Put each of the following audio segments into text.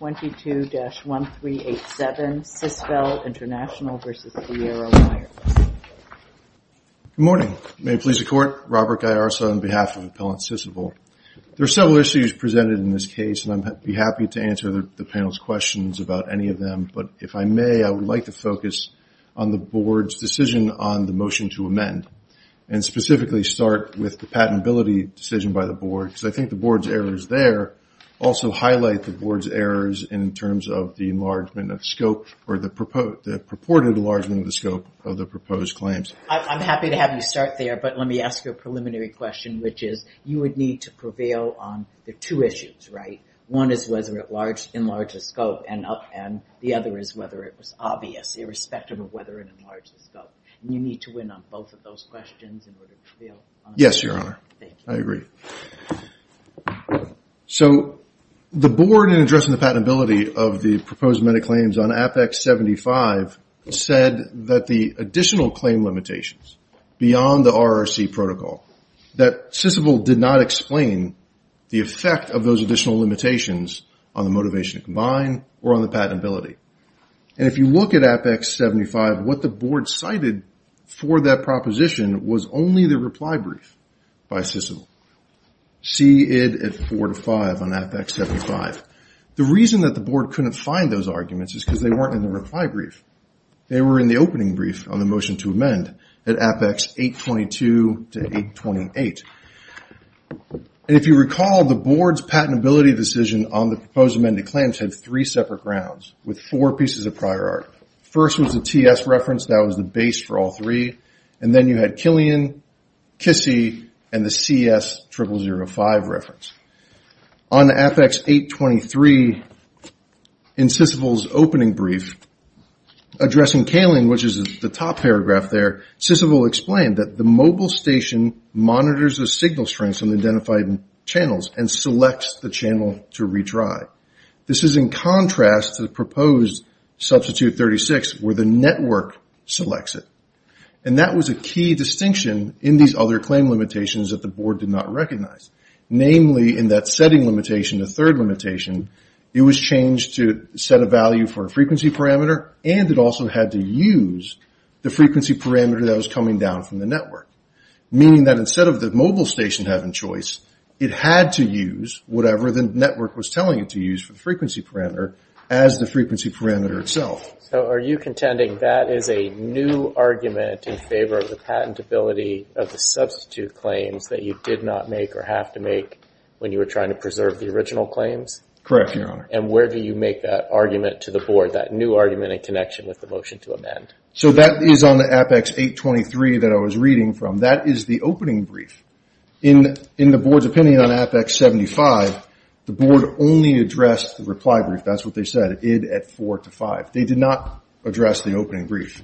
Good morning. May it please the Court, Robert Gaiarsa on behalf of Appellant Sissevel. There are several issues presented in this case, and I'd be happy to answer the panel's questions about any of them, but if I may, I would like to focus on the Board's decision on the motion to amend, and specifically start with the patentability decision by the Board, because I think the Board's errors there also highlight the Board's errors in terms of the enlargement of scope, or the purported enlargement of the scope of the proposed claims. I'm happy to have you start there, but let me ask you a preliminary question, which is, you would need to prevail on the two issues, right? One is whether it enlarges scope, and the other is whether it was obvious, irrespective of whether it enlarges scope. You need to So, the Board, in addressing the patentability of the proposed amended claims on Apex 75, said that the additional claim limitations, beyond the RRC protocol, that Sissevel did not explain the effect of those additional limitations on the motivation to combine, or on the patentability. And if you look at Apex 75, what the Board cited for that proposition was only the reply brief by Sissevel. See it at four to five on Apex 75. The reason that the Board couldn't find those arguments is because they weren't in the reply brief. They were in the opening brief on the motion to amend, at Apex 822 to 828. And if you recall, the Board's patentability decision on the proposed amended claims had three separate rounds, with four pieces of prior art. First was the TS reference, that was the base for all three, and then you had Killian, Kissy, and the CS 0005 reference. On Apex 823, in Sissevel's opening brief, addressing Kaling, which is the top paragraph there, Sissevel explained that the mobile station monitors the signal strengths of the identified channels and selects the channel to retry. This is in contrast to the proposed Substitute 36, where the network selects it. And that was a key distinction in these other claim limitations that the Board did not recognize. Namely, in that setting limitation, the third limitation, it was changed to set a value for a frequency parameter, and it also had to use the frequency parameter that was coming down from the network. Meaning that instead of the mobile station having choice, it had to use whatever the network was telling it to use for the frequency parameter itself. So are you contending that is a new argument in favor of the patentability of the substitute claims that you did not make or have to make when you were trying to preserve the original claims? Correct, Your Honor. And where do you make that argument to the Board, that new argument in connection with the motion to amend? So that is on the Apex 823 that I was reading from. That is the opening brief. In the Board's opinion on Apex 75, the Board only addressed the reply brief. That is what they said. It did at 4 to 5. They did not address the opening brief.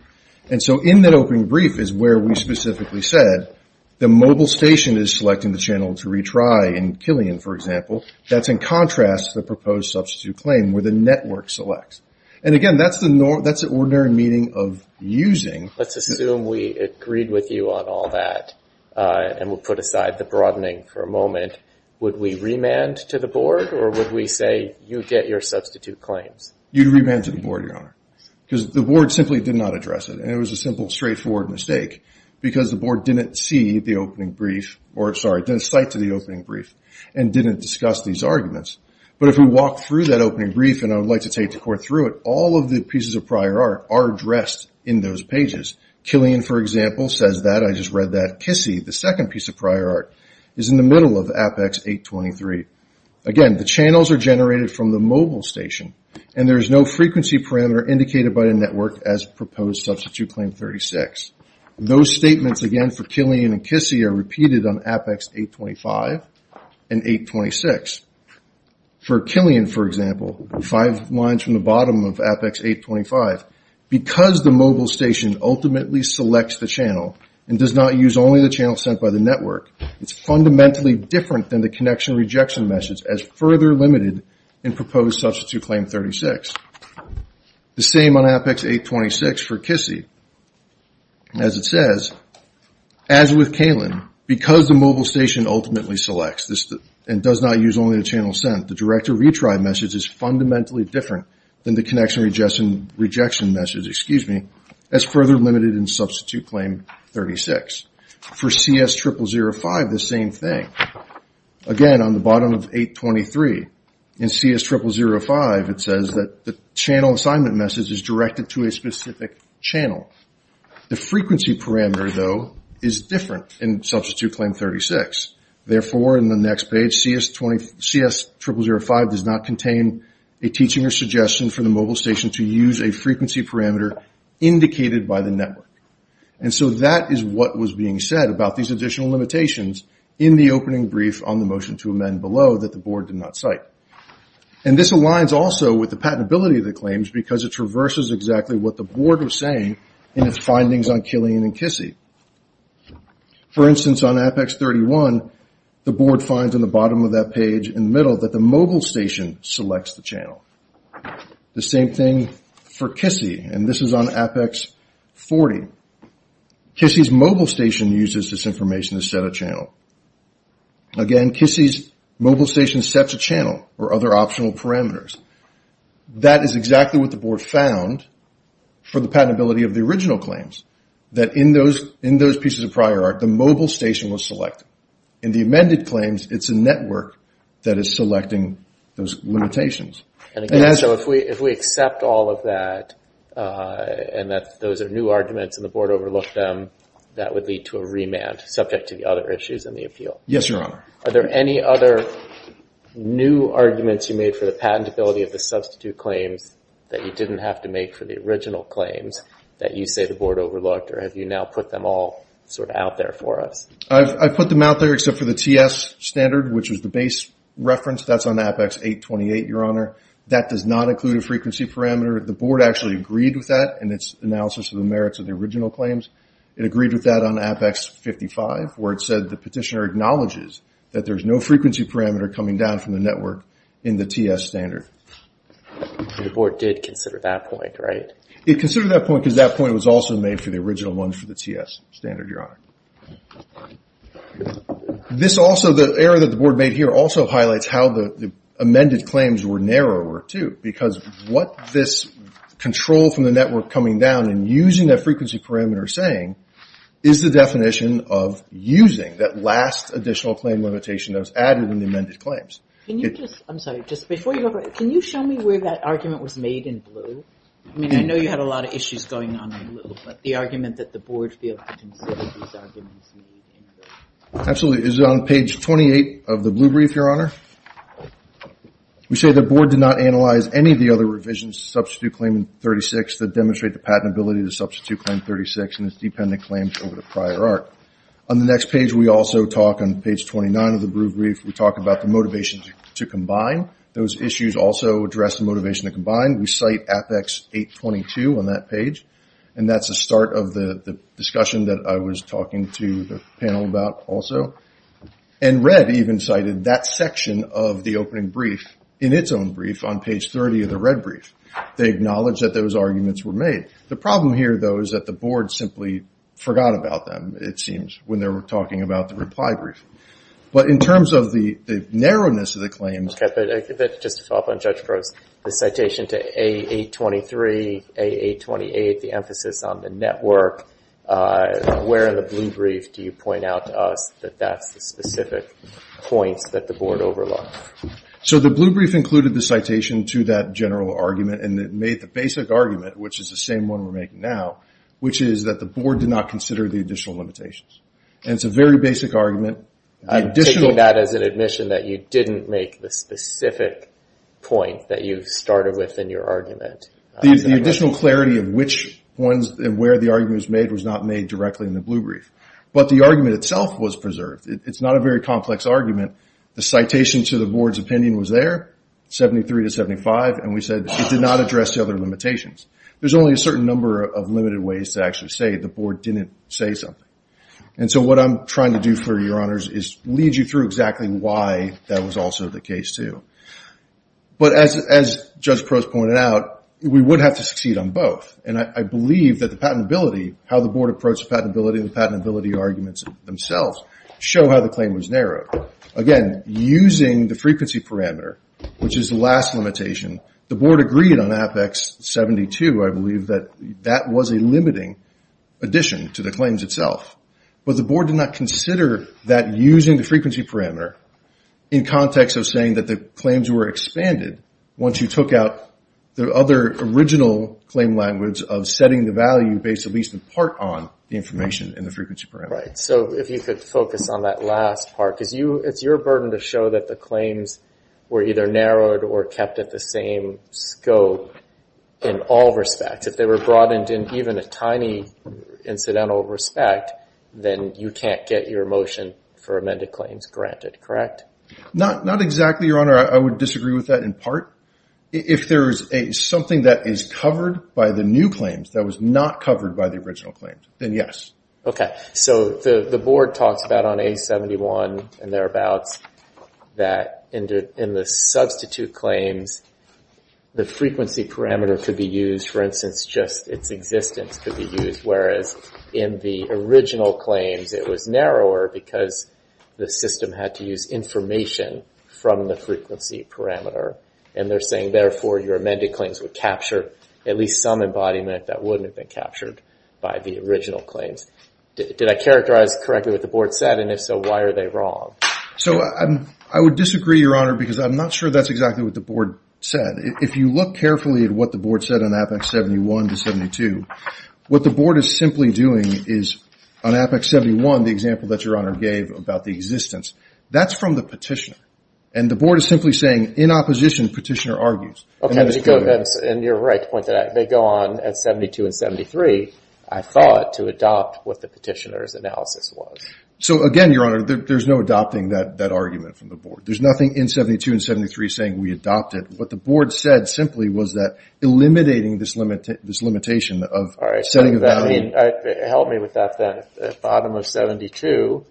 And so in that opening brief is where we specifically said the mobile station is selecting the channel to retry in Killian, for example. That is in contrast to the proposed substitute claim where the network selects. And again, that is the ordinary meaning of using. Let's assume we agreed with you on all that. And we will put aside the broadening for a moment. Would we remand to the Board or would we say you get your substitute claims? You would remand to the Board, Your Honor. Because the Board simply did not address it. And it was a simple straightforward mistake because the Board did not see the opening brief or, sorry, did not cite to the opening brief and did not discuss these arguments. But if we walk through that opening brief and I would like to take the Court through it, all of the pieces of prior art are addressed in those pages. Killian, for example, says that. I just read that. KISI, the second piece of prior art, is in the middle of Apex 823. Again, the channels are generated from the mobile station. And there is no frequency parameter indicated by the network as proposed substitute claim 36. Those statements, again, for Killian and KISI are repeated on Apex 825 and 826. For Killian, for example, five lines from the bottom of Apex 825. Because the mobile station ultimately selects the channel and does not use only the channel sent by the network, it is fundamentally different than the connection rejection message as further limited in proposed substitute claim 36. The same on Apex 826 for KISI. As it says, as with Killian, because the mobile station ultimately selects and does not use only the channel sent, the direct to retry message is fundamentally different than the connection rejection message. That is further limited in substitute claim 36. For CS0005, the same thing. Again, on the bottom of 823, in CS0005, it says that the channel assignment message is directed to a specific channel. The frequency parameter, though, is different in substitute claim 36. Therefore, in the next page, CS0005 does not contain a teaching or suggestion for the mobile station frequency parameter indicated by the network. That is what was being said about these additional limitations in the opening brief on the motion to amend below that the board did not cite. This aligns also with the patentability of the claims because it traverses exactly what the board was saying in its findings on Killian and KISI. For instance, on Apex 31, the board finds on the bottom of that page in the middle that the mobile station selects the channel. The same thing for KISI, and this is on Apex 40. KISI's mobile station uses this information to set a channel. Again, KISI's mobile station sets a channel or other optional parameters. That is exactly what the board found for the patentability of the original claims, that in those pieces of prior art, the mobile station was selected. In the amended claims, it is a network that is selecting those limitations. If we accept all of that and that those are new arguments and the board overlooked them, that would lead to a remand subject to the other issues in the appeal. Yes, Your Honor. Are there any other new arguments you made for the patentability of the substitute claims that you did not have to make for the original claims that you say the board overlooked, or have you now put them all out there for us? I put them out there except for the TS standard, which was the base reference. That's on Apex 828, Your Honor. That does not include a frequency parameter. The board actually agreed with that in its analysis of the merits of the original claims. It agreed with that on Apex 55, where it said the petitioner acknowledges that there's no frequency parameter coming down from the network in the TS standard. The board did consider that point, right? It considered that point because that point was also made for the original one for the TS standard, Your Honor. This also, the error that the board made here also highlights how the amended claims were narrower, too, because what this control from the network coming down and using that frequency parameter saying is the definition of using that last additional claim limitation that was added in the amended claims. I'm sorry, just before you go, can you show me where that argument was made in blue? I mean, I know you had a lot of issues going on in blue, but the argument that the board failed to consider these arguments in blue. Absolutely. It's on page 28 of the blue brief, Your Honor. We say the board did not analyze any of the other revisions to substitute claim 36 that demonstrate the patentability to substitute claim 36 in its dependent claims over the prior arc. On the next page, we also talk on page 29 of the blue brief, we talk about the motivation to combine. Those issues also address the motivation to combine. We cite Apex 822 on that page, and that's the start of the discussion that I was talking to the panel about also. And red even cited that section of the opening brief in its own brief on page 30 of the red brief. They acknowledged that those arguments were made. The problem here, though, is that the board simply forgot about them, it seems, when they were talking about the reply brief. But in terms of the narrowness of the claims... Just to follow up on Judge Gross, the citation to A823, A828, the emphasis on the network, where in the blue brief do you point out to us that that's the specific points that the board overlooked? So the blue brief included the citation to that general argument, and it made the basic argument, which is the same one we're making now, which is that the board did not consider the additional limitations. And it's a very basic argument. I'm taking that as an admission that you didn't make the specific point that you started with in your argument. The additional clarity of which ones and where the argument was made was not made directly in the blue brief. But the argument itself was preserved. It's not a very complex argument. The citation to the board's opinion was there, 73 to 75, and we said it did not address the other limitations. There's only a certain number of limited ways to actually say the board didn't say something. And so what I'm trying to do for your honors is lead you through exactly why that was also the case, too. But as Judge Prost pointed out, we would have to succeed on both. And I believe that the patentability, how the board approached the patentability and patentability arguments themselves show how the claim was narrowed. Again, using the frequency parameter, which is the last limitation, the board agreed on Apex 72. I believe that that was a limiting addition to the claims itself. But the board did not consider that using the frequency parameter in context of saying that the claims were expanded once you took out the other original claim language of setting the value based at least in part on the information in the frequency parameter. So if you could focus on that last part, because it's your burden to show that the claims were either narrowed or kept at the same scope in all respects. If they were broadened in even a tiny incidental respect, then you can't get your motion for amended claims granted, correct? Not exactly, your honor. I would disagree with that in part. If there is something that is covered by the new claims that was not covered by the original claim, then yes. Okay. So the board talks about on A71 and thereabouts that in the substitute claims, the frequency parameter could be used, for instance, just its existence could be used. Whereas in the original claims, it was narrower because the system had to use information from the frequency parameter. And they're saying, therefore, your amended claims would capture at least some embodiment that wouldn't have been captured by the original claims. Did I characterize correctly what the board said? And if so, why are they wrong? So I would disagree, your honor, because I'm not sure that's exactly what the board said. If you look carefully at what the board said on APEX 71 to 72, what the board is simply doing is on APEX 71, the example that your honor gave about the existence, that's from the petitioner. And the board is simply saying, in opposition, petitioner argues. Okay. And you're right to point that out. They go on at 72 and 73, I thought, to adopt what the petitioner's analysis was. So again, your honor, there's no adopting that argument from the board. There's nothing in 72 and 73 saying we adopted. What the board said simply was that eliminating this limitation of setting a value. All right. Help me with that then. At the bottom of 72,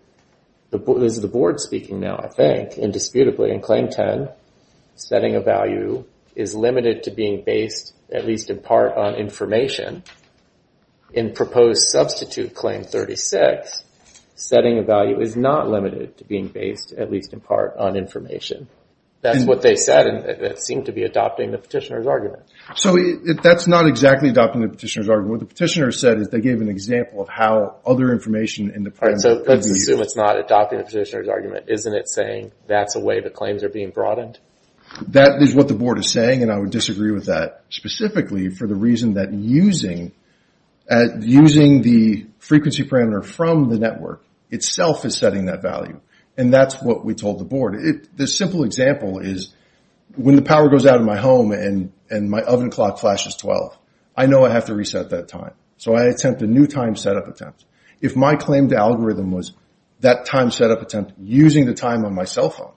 this is the board speaking now, I think, indisputably, in Claim 10, setting a value is limited to being based, at least in part, on information. In proposed substitute Claim 36, setting a value is not limited to being based, at least in part, on information. That's what they said, and it seemed to be adopting the petitioner's argument. So that's not exactly adopting the petitioner's argument. What the petitioner said is they gave an example of how other information in the program... All right. So let's assume it's not adopting the petitioner's argument. Isn't it saying that's a way the claims are being broadened? That is what the board is saying, and I would disagree with that, specifically for the reason that using the frequency parameter from the network itself is setting that value. And that's what we told the board. The simple example is when the power goes out in my home and my oven clock flashes 12, I know I have to reset that time. So I attempt a new time setup attempt. If my claim to algorithm was that time setup attempt using the time on my cell phone,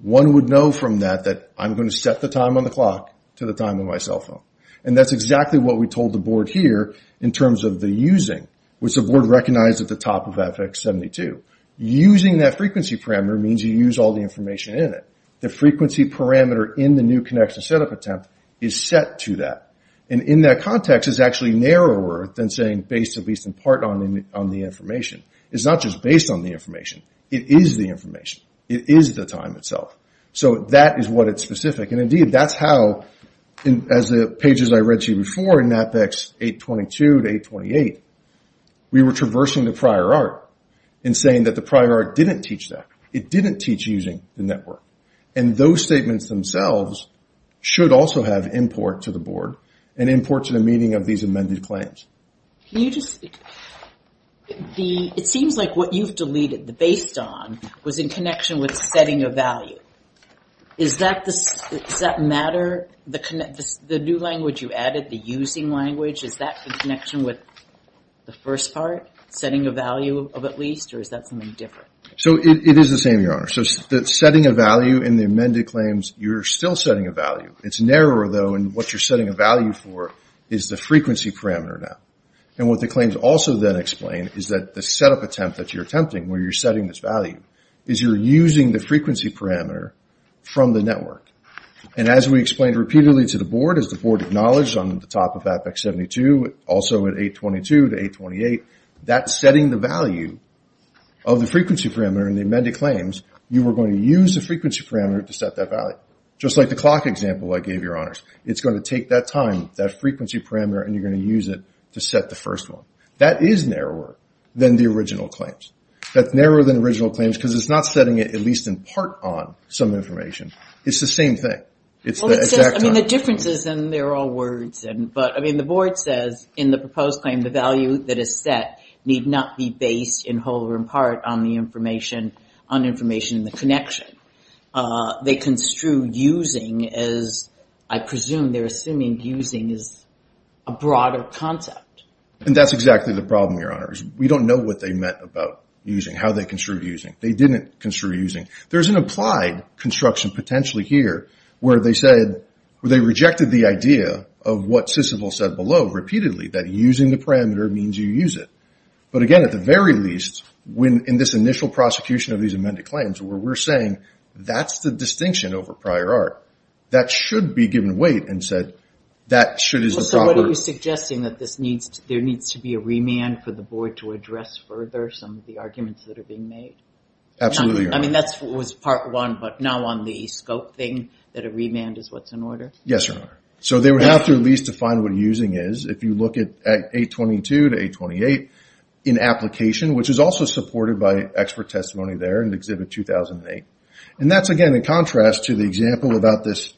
one would know from that that I'm going to set the time on the clock to the time on my cell phone. And that's exactly what we told the board here in terms of the using, which the board recognized at the top of FX-72. Using that frequency parameter means you use all the information in it. The frequency parameter in the new connection setup attempt is set to that. And in that context, it's actually narrower than saying based at least in part on the information. It's not just based on the information. It is the information. It is the information. And that is what it's specific. And indeed, that's how, as the pages I read you before in Apex 822 to 828, we were traversing the prior art in saying that the prior art didn't teach that. It didn't teach using the network. And those statements themselves should also have import to the board and import to the meaning of these amended claims. Can you just, it seems like what you've deleted the based on was in connection with setting a value. Does that matter? The new language you added, the using language, is that the connection with the first part, setting a value of at least, or is that something different? So it is the same, Your Honor. So setting a value in the amended claims, you're still setting a value. It's narrower though, and what you're setting a value for is the frequency parameter now. And what the claims also then explain is that the setup attempt that you're attempting, where you're setting this value, is you're using the frequency parameter from the network. And as we explained repeatedly to the board, as the board acknowledged on the top of Apex 72, also at 822 to 828, that setting the value of the frequency parameter in the amended claims, you were going to use the frequency parameter to set that value. Just like the clock example I gave, Your Honors. It's going to take that time, that frequency parameter, and you're going to use it to set the first one. That is narrower than the original claims. That's narrower than the original claims because it's not setting it at least in part on some information. It's the same thing. It's the exact time. Well, it says, I mean, the differences, and they're all words, but I mean, the board says in the proposed claim, the value that is set need not be based in whole or in part on the information, on information in the connection. They construe using as, I presume, they're assuming using is a broader concept. And that's exactly the problem, Your Honors. We don't know what they meant about using, how they construed using. They didn't construe using. There's an applied construction potentially here where they said, where they rejected the idea of what Sissible said below repeatedly, that using the parameter means you use it. But again, at the very least, when in this initial prosecution of these amended claims, where we're saying that's the distinction over prior art, that should be given weight and said, that should as a proper- There needs to be a remand for the board to address further some of the arguments that are being made? Absolutely, Your Honor. I mean, that was part one, but now on the scope thing, that a remand is what's in order? Yes, Your Honor. So they would have to at least define what using is. If you look at 822 to 828 in application, which is also supported by expert testimony there in Exhibit 2008. And that's, again, in contrast to the example about this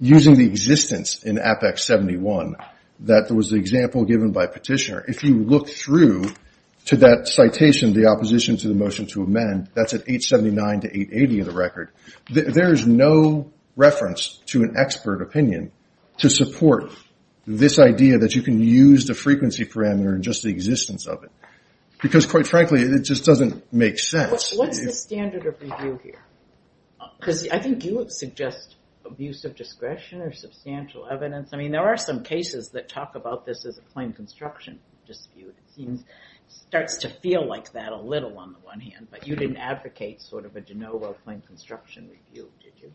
using the existence in Apex 71, that was the example given by Petitioner. If you look through to that citation, the opposition to the motion to amend, that's at 879 to 880 in the record. There is no reference to an expert opinion to support this idea that you can use the frequency parameter in just the existence of it. Because quite frankly, it just doesn't make sense. What's the standard of review here? Because I think you would suggest abuse of discretion or substantial evidence. I mean, there are some cases that talk about this as a claim construction dispute. It starts to feel like that a little on the one hand, but you didn't advocate sort of a de novo claim construction review, did you?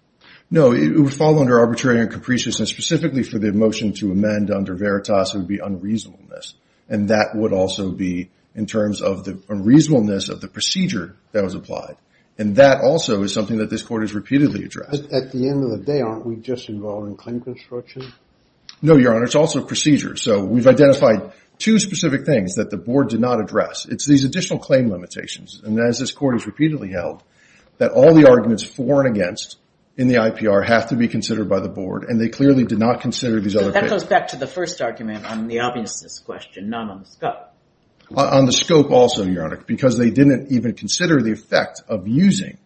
No, it would fall under arbitrary and capricious, and specifically for the motion to amend under Veritas, it would be unreasonableness. And that would also be in terms of the unreasonableness of the procedure that was applied. And that also is something that this Court has repeatedly addressed. At the end of the day, aren't we just involved in claim construction? No, Your Honor. It's also procedures. So we've identified two specific things that the Board did not address. It's these additional claim limitations. And as this Court has repeatedly held, that all the arguments for and against in the IPR have to be considered by the Board, and they clearly did not consider these other cases. So that goes back to the first argument on the obviousness question, not on the scope. On the scope also, Your Honor, because they didn't even consider the effect of using,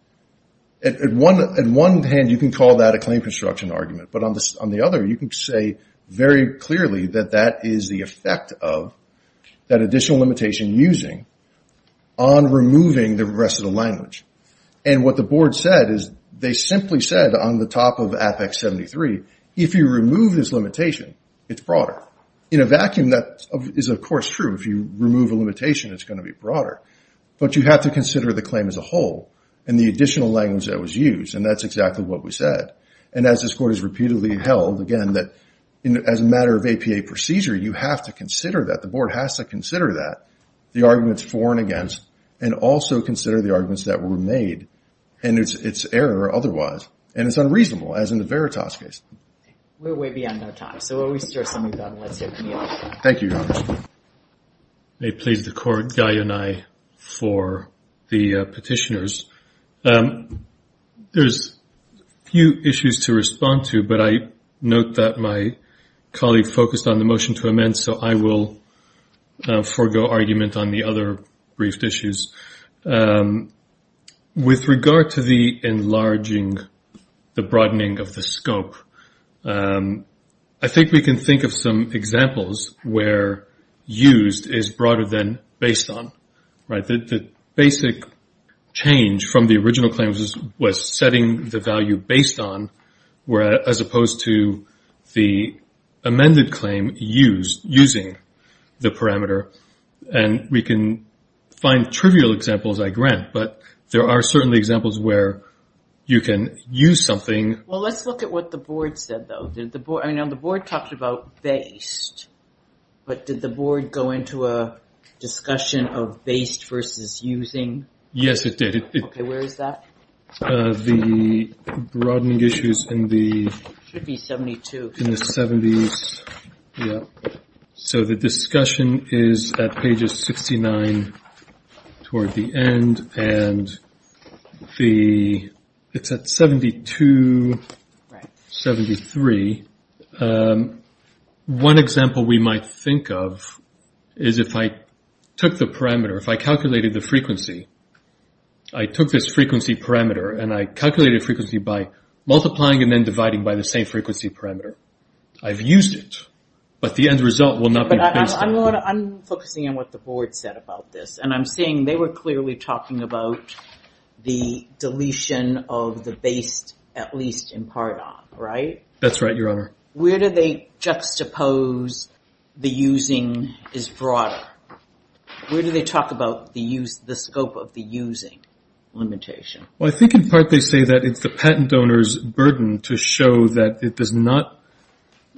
on one hand, you can call that a claim construction argument. But on the other, you can say very clearly that that is the effect of that additional limitation using on removing the rest of the language. And what the Board said is they simply said on the top of Apex 73, if you remove this limitation, it's broader. In a vacuum, that is, of course, true. If you remove a limitation, it's going to be broader. But you have to consider the claim as a whole, and the additional language that was used. And that's exactly what we said. And as this Court has repeatedly held, again, that as a matter of APA procedure, you have to consider that. The Board has to consider that, the arguments for and against, and also consider the arguments that were made and its error otherwise. And it's unreasonable, as in the Veritas case. We're way beyond our time. So we'll restart some of that, and let's hear from you. Thank you, Your Honor. I may please the Court, Guy and I, for the petitioners. There's a few issues to respond to, but I note that my colleague focused on the motion to amend, so I will forgo argument on the other briefed issues. With regard to the enlarging, the broadening of the scope, I think we can think of some examples where used is broader than based on. The basic change from the original claim was setting the value based on, as opposed to the amended claim using the parameter. And we can find trivial examples, I grant, but there are certainly examples where you can use something. Well, let's look at what the Board said, though. The Board talked about based, but did the Board go into a discussion of based versus using? Yes, it did. Okay, where is that? The broadening issues in the... It should be 72. In the 70s, yep. So the discussion is at pages 69 toward the end, and it's at 72, 73. One example we might think of is if I took the parameter, if I calculated the frequency, I took this frequency parameter and I calculated frequency by multiplying and then dividing by the frequency parameter. I've used it, but the end result will not be based on it. I'm focusing on what the Board said about this, and I'm seeing they were clearly talking about the deletion of the based, at least in part on, right? That's right, Your Honor. Where do they juxtapose the using is broader? Where do they talk about the scope of the using limitation? Well, I think in part they say it's the patent owner's burden to show that it does not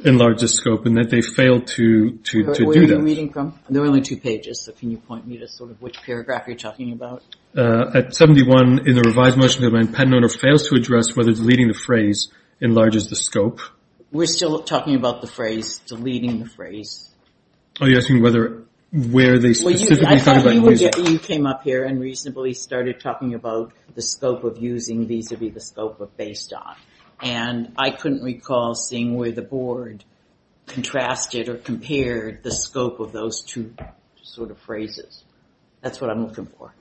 enlarge the scope and that they fail to do that. Where are you reading from? There are only two pages, so can you point me to which paragraph you're talking about? At 71 in the revised motion, the patent owner fails to address whether deleting the phrase enlarges the scope. We're still talking about the phrase, deleting the phrase. Are you asking where they specifically talk about using? I thought you came up here and reasonably started talking about the scope of using vis-a-vis the scope of based on, and I couldn't recall seeing where the Board contrasted or compared the scope of those two sort of phrases. That's what I'm looking for.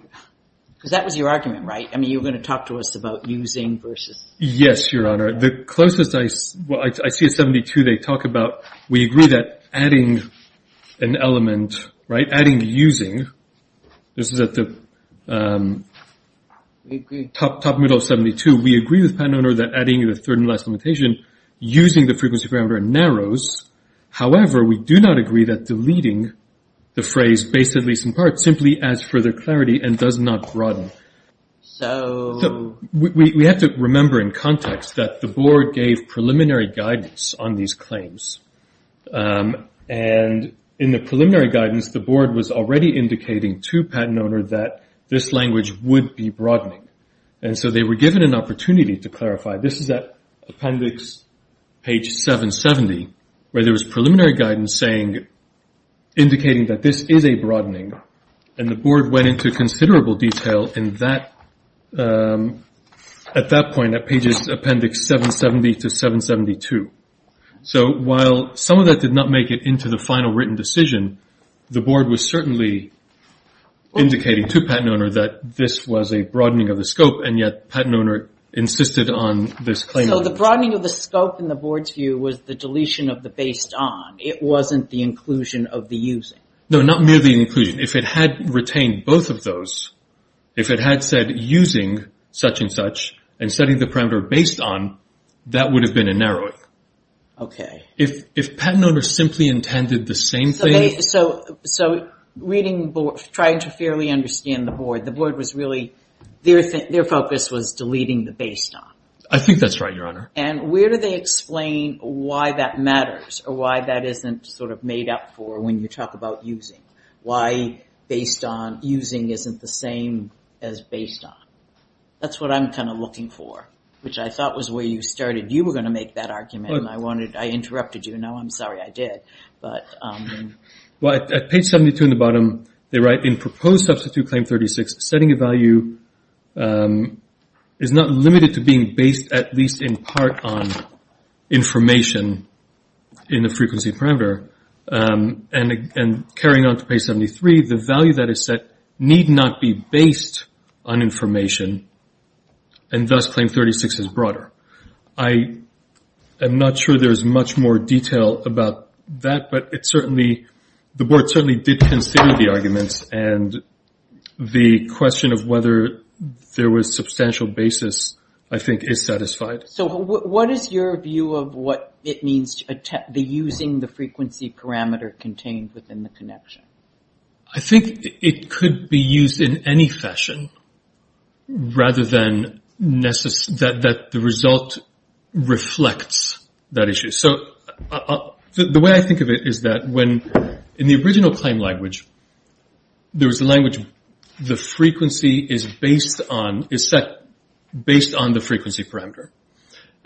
Because that was your argument, right? I mean, you were going to talk to us about using versus... Yes, Your Honor. The closest I see, well, I see at 72 they talk about, we agree that adding an element, right, adding using, this is at the top middle of 72, we agree with the patent owner that adding the third and last limitation using the frequency parameter narrows. However, we do not agree that deleting the phrase based at least in part simply adds further clarity and does not broaden. We have to remember in context that the Board gave preliminary guidance on these claims. And in the preliminary guidance, the Board was already indicating to patent owner that this language would be broadening. And so they were given an opportunity to clarify. This is at appendix page 770, where there was preliminary guidance saying, indicating that this is a broadening. And the Board went into considerable detail at that point, at pages appendix 770 to 772. So while some of that did not make it into the final written decision, the Board was certainly indicating to patent owner that this was a broadening of the scope and yet patent owner insisted on this claim. So the broadening of the scope in the Board's view was the deletion of the based on. It wasn't the inclusion of the using. No, not merely the inclusion. If it had retained both of those, if it had said using such and such and setting the parameter based on, that would have been a narrowing. If patent owner simply intended the same thing... So reading, trying to fairly understand the Board, the Board was really, their focus was deleting the based on. I think that's right, Your Honor. And where do they explain why that matters or why that isn't sort of made up for when you talk about using? Why based on, using isn't the same as based on? That's what I'm kind of looking for, which I thought was where you started. You were going to make that argument and I wanted, I interrupted you. Now I'm sorry I did. Well, at page 72 in the bottom, they write in proposed substitute claim 36, setting a value is not limited to being based at least in part on information in the frequency parameter. And carrying on to page 73, the value that is set need not be based on information and thus claim 36 is broader. I am not sure there's much more detail about that, but it certainly, the Board certainly did consider the arguments and the question of whether there was substantial basis, I think is satisfied. So what is your view of what it means to be using the frequency parameter contained within the connection? I think it could be used in any fashion rather than that the result reflects that issue. So the way I think of it is that when, in the original claim language, there was a language, the frequency is based on, is set based on the frequency parameter.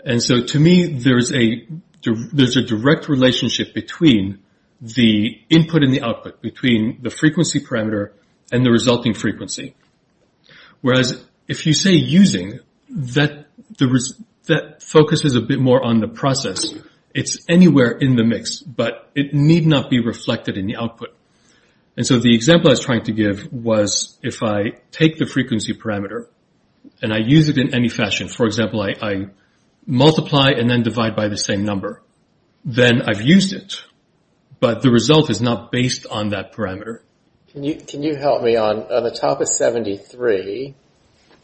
And so to me, there's a direct relationship between the input and the output, between the frequency parameter and the resulting frequency. Whereas if you say using, that focuses a bit more on the process. It's anywhere in the mix, but it need not be reflected in the output. And so the example I was trying to give was if I take the frequency parameter and I use it in any fashion. For example, I multiply and then divide by the same number. Then I've used it, but the result is not based on that parameter. Can you help me on the top of 73,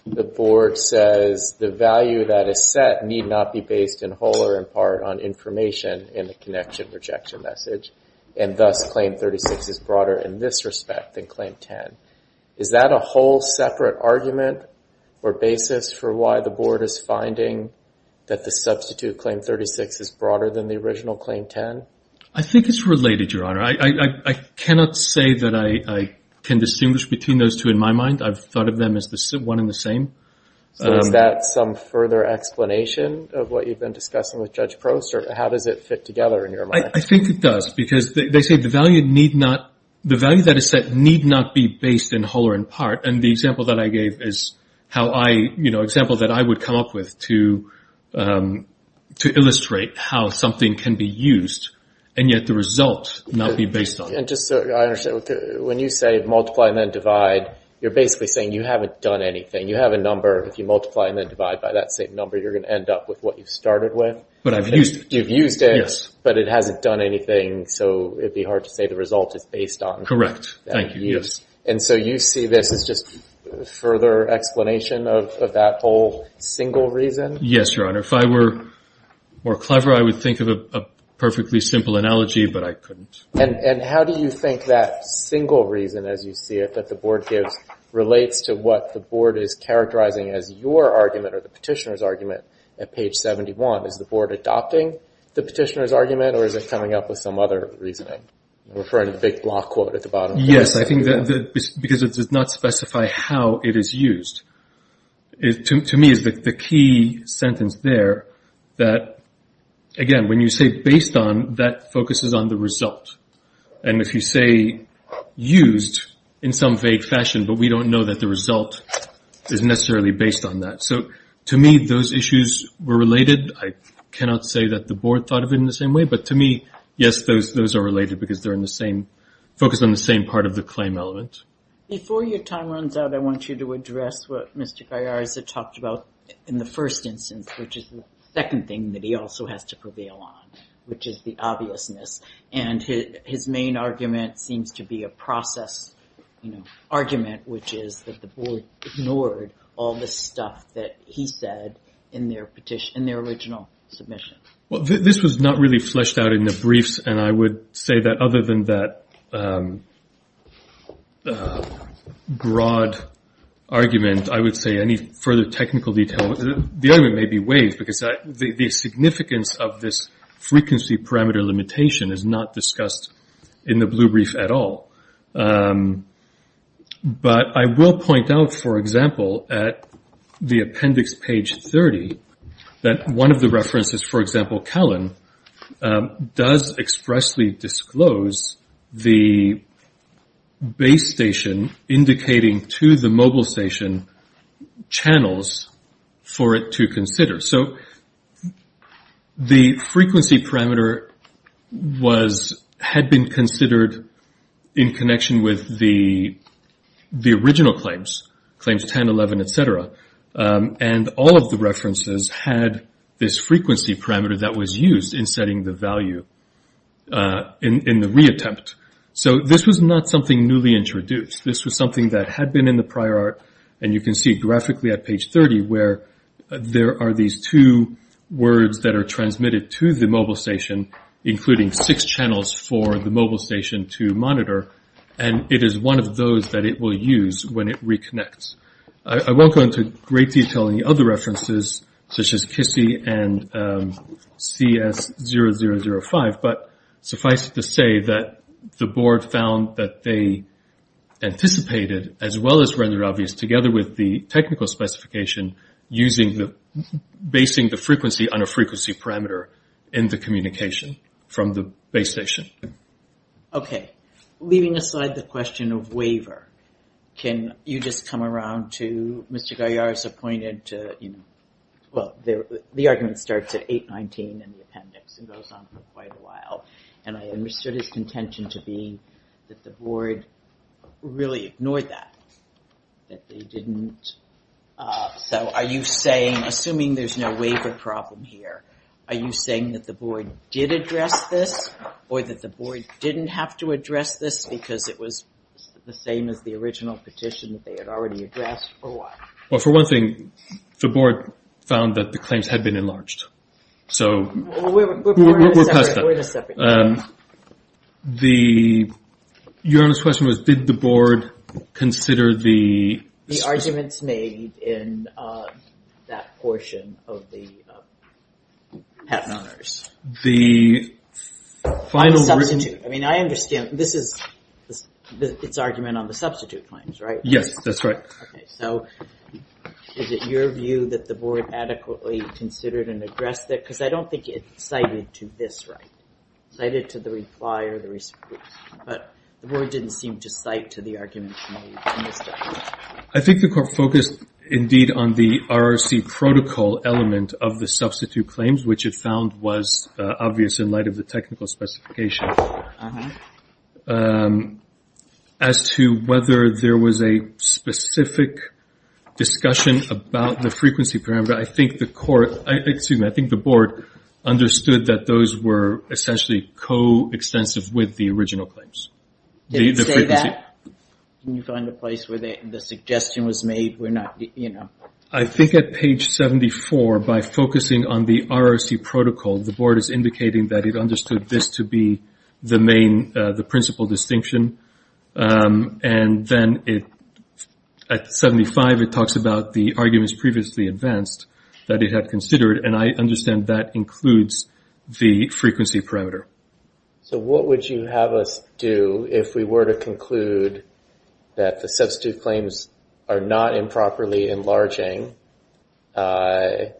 the Board says the value that is set need not be based in whole or in part on information in the connection rejection message. And thus claim 36 is broader in this respect than claim 10. Is that a whole separate argument or basis for why the Board is finding that the substitute claim 36 is broader than the original claim 10? I think it's related, Your Honor. I cannot say that I can distinguish between those two in my mind. I've thought of them as one and the same. So is that some further explanation of what you've been discussing with Judge Prost? Or how does it fit together in your mind? I think it does. They say the value that is set need not be based in whole or in part. And the example that I gave is an example that I would come up with to illustrate how something can be used and yet the result not be based on it. And just so I understand, when you say multiply and then divide, you're basically saying you haven't done anything. You have a number. If you multiply and then divide by that same number, you're going to end up with what you started with. But I've used it. You've used it. Yes. But it hasn't done anything. So it'd be hard to say the result is based on. Correct. Thank you. Yes. And so you see this as just further explanation of that whole single reason? Yes, Your Honor. If I were more clever, I would think of a perfectly simple analogy. But I couldn't. And how do you think that single reason, as you see it, that the board gives relates to what the board is characterizing as your argument or the petitioner's argument at page 71? Is the board adopting the petitioner's argument or is it coming up with some other reasoning? I'm referring to the big block quote at the bottom. Yes. I think that because it does not specify how it is used. To me, it's the key sentence there that, again, when you say based on, that focuses on the result. And if you say used in some vague fashion, but we don't know that the result is necessarily based on that. So to me, those issues were related. I cannot say that the board thought of it in the same way. But to me, yes, those are related because they're in the same, focused on the same part of the claim element. Before your time runs out, I want you to address what Mr. Gaiarza talked about in the first instance, which is the second thing that he also has to prevail on, which is the obviousness. And his main argument seems to be a process argument, which is that the board ignored all the stuff that he said in their petition, in their original submission. Well, this was not really fleshed out in the briefs. And I would say that other than that broad argument, I would say any further technical detail, the argument may be waived because the significance of this frequency parameter limitation is not discussed in the blue brief at all. But I will point out, for example, at the appendix page 30, that one of the references, for example, Callan, does expressly disclose the base station indicating to the mobile station channels for it to consider. So the frequency parameter had been considered in connection with the original claims, claims 10, 11, et cetera. And all of the references had this frequency parameter that was used in setting the value in the reattempt. So this was not something newly introduced. This was something that had been in the prior art. And you can see graphically at page 30 where there are these two words that are transmitted to the mobile station, including six channels for the mobile station to monitor. And it is one of those that it will use when it reconnects. I won't go into great detail on the other references, such as KISI and CS0005, but suffice it to say that the board found that they anticipated, as well as rendered obvious, together with the technical specification, basing the frequency on a frequency parameter in the communication from the base station. Okay. Leaving aside the question of waiver, can you just come around to Mr. Galliar's appointed... Well, the argument starts at 819 in the appendix and goes on for quite a while. And I understood his contention to be that the board really ignored that. That they didn't... So are you saying, assuming there's no waiver problem here, are you saying that the board did address this or that the board didn't have to address this because it was the same as the original petition that they had already addressed, or what? Well, for one thing, the board found that the claims had been enlarged. So we'll pass that. We're in a separate case. The... Your honest question was, did the board consider the... The arguments made in that portion of the patent honors. The final written... I mean, I understand. This is its argument on the substitute claims, right? Yes, that's right. Okay. So is it your view that the board adequately considered and addressed that? Because I don't think it cited to this right. Cited to the reply or the response. But the board didn't seem to cite to the arguments made in this definition. I think the court focused indeed on the RRC protocol element of the substitute claims, which it found was obvious in light of the technical specification. As to whether there was a specific discussion about the frequency parameter, I think the court... Excuse me. I think the board understood that those were essentially co-extensive with the original claims. Did it say that? When you find a place where the suggestion was made, we're not, you know... I think at page 74, by focusing on the RRC protocol, the board is indicating that it understood this to be the main, the principal distinction. And then at 75, it talks about the arguments previously advanced that it had considered. And I understand that includes the frequency parameter. So what would you have us do if we were to conclude that the substitute claims are not improperly enlarging and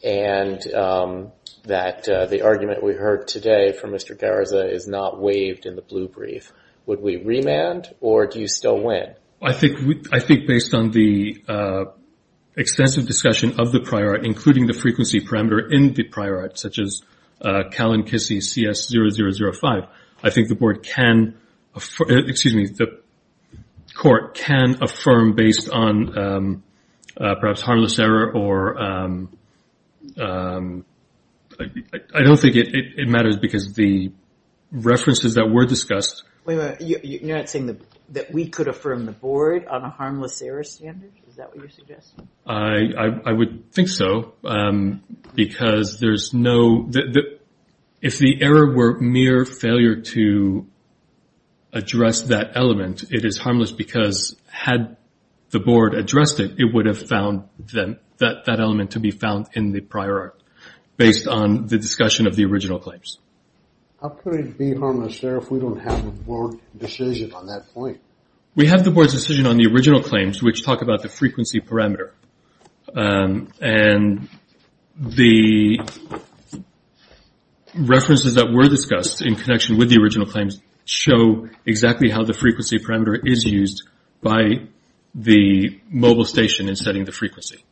that the argument we heard today from Mr. Garza is not waived in the blue brief? Would we remand or do you still win? I think based on the extensive discussion of the prior art, including the frequency parameter in the prior art, such as CALIN-KISSI-CS-0005, I think the board can... Excuse me. The court can affirm based on perhaps harmless error or... I don't think it matters because the references that were discussed... Wait a minute. You're not saying that we could affirm the board on a harmless error standard? Is that what you're suggesting? I would think so because there's no... If the error were mere failure to address that element, it is harmless because had the board addressed it, it would have found that element to be found in the prior art based on the discussion of the original claims. How could it be harmless error if we don't have a board decision on that point? We have the board's decision on the original claims, which talk about the frequency parameter. And the references that were discussed in connection with the original claims show exactly how the frequency parameter is used by the mobile station in setting the frequency.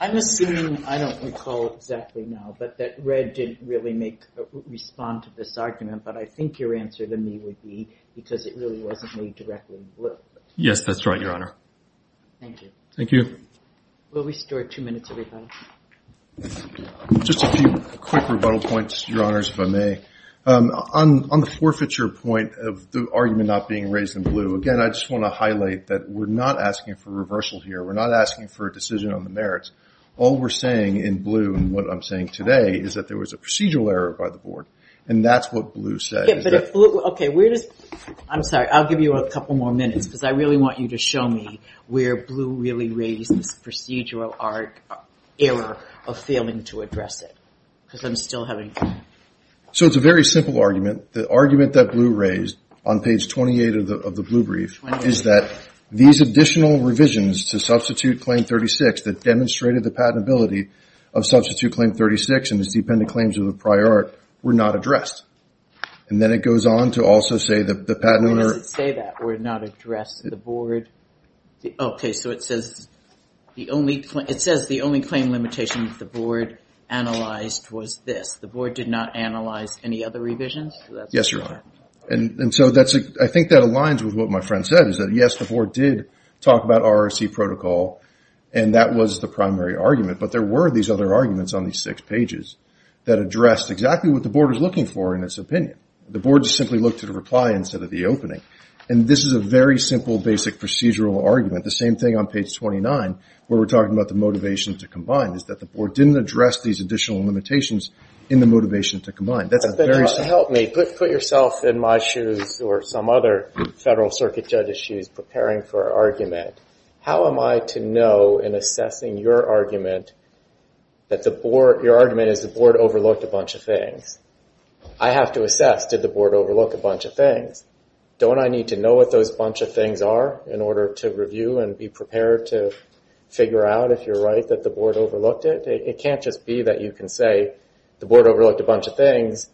I'm assuming, I don't recall exactly now, but that Red didn't really respond to this argument, but I think your answer to me would be because it really wasn't made directly in blue. Yes, that's right, Your Honor. Thank you. Thank you. We'll restore two minutes, everybody. Just a few quick rebuttal points, Your Honors, if I may. On the forfeiture point of the argument not being raised in blue, again, I just want to highlight that we're not asking for reversal here. We're not asking for a decision on the merits. All we're saying in blue and what I'm saying today is that there was a procedural error by the board. And that's what Blue said. Okay, I'm sorry. I'll give you a couple more minutes because I really want you to show me where Blue really raised this procedural error of failing to address it. Because I'm still having... So it's a very simple argument. The argument that Blue raised on page 28 of the blue brief is that these additional revisions to substitute claim 36 that demonstrated the patentability of substitute claim 36 and its dependent claims of the prior art were not addressed. And then it goes on to also say that the patent... When does it say that were not addressed? The board... Okay, so it says the only... It says the only claim limitation that the board analyzed was this. The board did not analyze any other revisions? Yes, Your Honor. And so I think that aligns with what my friend said is that, yes, the board did talk about RRC protocol and that was the primary argument. But there were these other arguments on these six pages that addressed exactly what the board was looking for in its opinion. The board just simply looked at a reply instead of the opening. And this is a very simple, basic procedural argument. The same thing on page 29 where we're talking about the motivation to combine is that the board didn't address these additional limitations in the motivation to combine. That's a very... Help me. Put yourself in my shoes or some other Federal Circuit judge's shoes preparing for argument. How am I to know in assessing your argument that the board... Your argument is the board overlooked a bunch of things. I have to assess, did the board overlook a bunch of things? Don't I need to know what those bunch of things are in order to review and be prepared to figure out, if you're right, that the board overlooked it? It can't just be that you can say the board overlooked a bunch of things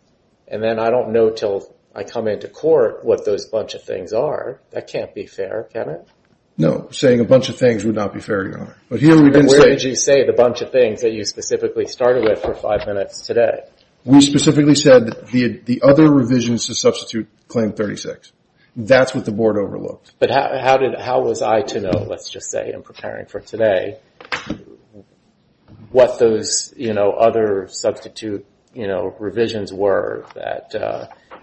and then I don't know until I come into court what those bunch of things are. That can't be fair, can it? No, saying a bunch of things would not be fair, Your Honor. But here we didn't say... Where did you say the bunch of things that you specifically started with for five minutes today? We specifically said the other revisions to substitute claim 36. That's what the board overlooked. But how was I to know, let's just say, in preparing for today, what those other substitute revisions were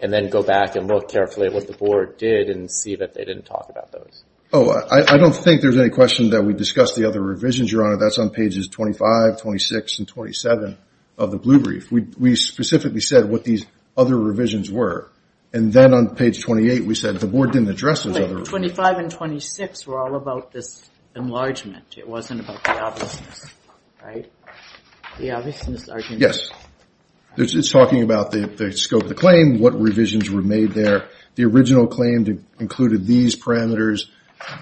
and then go back and look carefully at what the board did and see that they didn't talk about those? Oh, I don't think there's any question that we discussed the other revisions, Your Honor. That's on pages 25, 26, and 27 of the Blue Brief. We specifically said what these other revisions were. And then on page 28, we said the board didn't address those other... 25 and 26 were all about this enlargement. It wasn't about the obviousness, right? The obviousness... Yes, it's talking about the scope of the claim, what revisions were made there. The original claim included these parameters,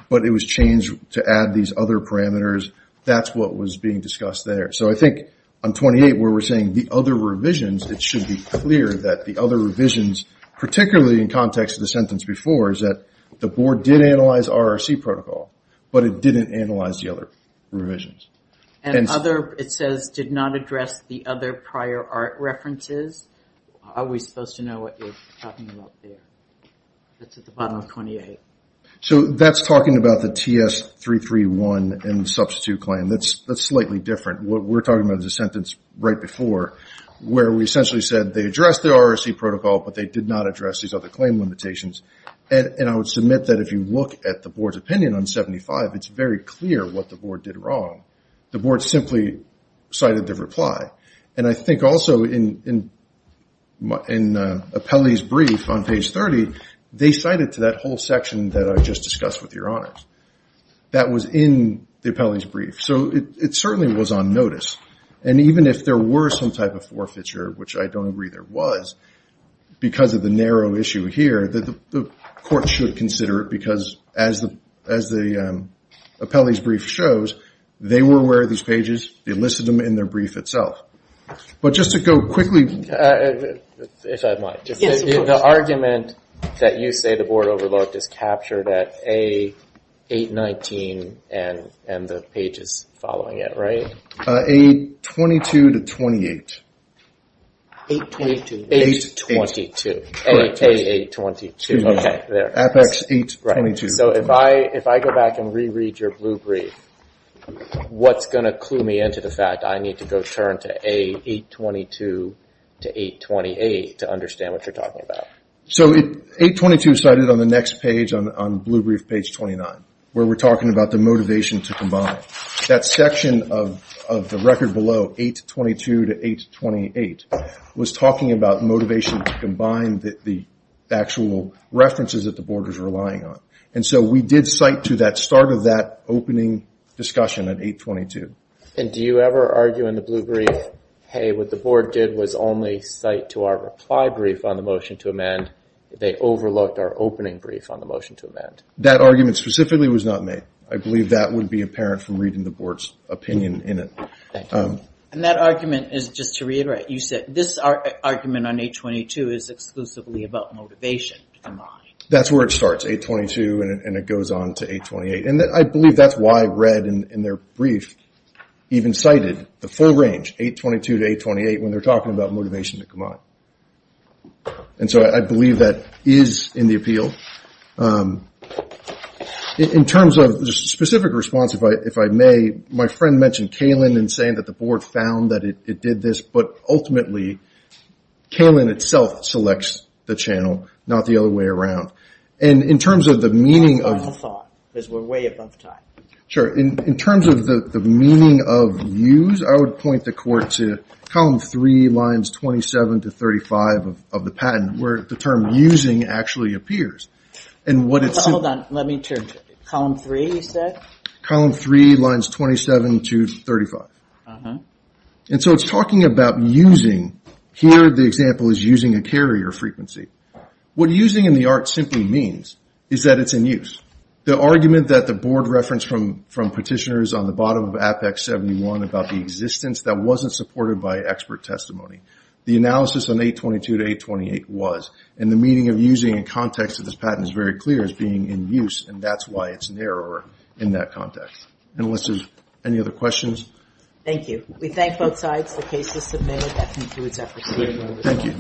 but it was changed to add these other parameters. That's what was being discussed there. So I think on 28, where we're saying the other revisions, it should be clear that the other revisions, particularly in context of the sentence before, is that the board did analyze RRC protocol, but it didn't analyze the other revisions. And other, it says, did not address the other prior art references. Are we supposed to know what you're talking about there? That's at the bottom of 28. So that's talking about the TS-331 and the substitute claim. That's slightly different. What we're talking about is a sentence right before where we essentially said they addressed the RRC protocol, but they did not address these other claim limitations. And I would submit that if you look at the board's opinion on 75, it's very clear what the board did wrong. The board simply cited the reply. And I think also in Apelli's brief on page 30, they cited to that whole section that I just discussed with your honors. That was in the Apelli's brief. So it certainly was on notice. And even if there were some type of forfeiture, which I don't agree there was, because of the narrow issue here, that the court should consider it because as the Apelli's brief shows, they were aware of these pages. They listed them in their brief itself. But just to go quickly. If I might, the argument that you say the board overlooked is captured at A-819 and the pages following it, right? A-22 to 28. A-22, A-822. A-822, okay, there. Apex-822. So if I go back and reread your blue brief, what's going to clue me into the fact I need to go turn to A-822 to A-828 to understand what you're talking about? So A-822 cited on the next page, on blue brief page 29, where we're talking about the motivation to combine. That section of the record below, A-822 to A-828, was talking about motivation to combine the actual references that the board was relying on. And so we did cite to that start of that opening discussion at A-822. And do you ever argue in the blue brief, hey, what the board did was only cite to our reply brief on the motion to amend. They overlooked our opening brief on the motion to amend. That argument specifically was not made. I believe that would be apparent from reading the board's opinion in it. And that argument is just to reiterate, you said this argument on A-822 is exclusively about motivation to combine. That's where it starts A-822 and it goes on to A-828. And I believe that's why Red in their brief even cited the full range, A-822 to A-828, when they're talking about motivation to combine. And so I believe that is in the appeal. In terms of the specific response, if I may, my friend mentioned Kalin and saying that the board found that it did this, but ultimately Kalin itself selects the channel, not the other way around. And in terms of the meaning of... I have a thought, because we're way above time. Sure. In terms of the meaning of use, I would point the court to column three, lines 27 to 35 of the patent, where the term using actually appears. And what it's... Hold on, let me turn to it. Column three, you said? Column three, lines 27 to 35. And so it's talking about using. Here, the example is using a carrier frequency. What using in the art simply means is that it's in use. The argument that the board referenced from petitioners on the bottom of Apex 71 about the existence, that wasn't supported by expert testimony. The analysis on A-822 to A-828 was, and the meaning of using in context of this patent is very clear, as being in use. And that's why it's narrower in that context. And Alyssa, any other questions? Thank you. We thank both sides for cases submitted. Thank you.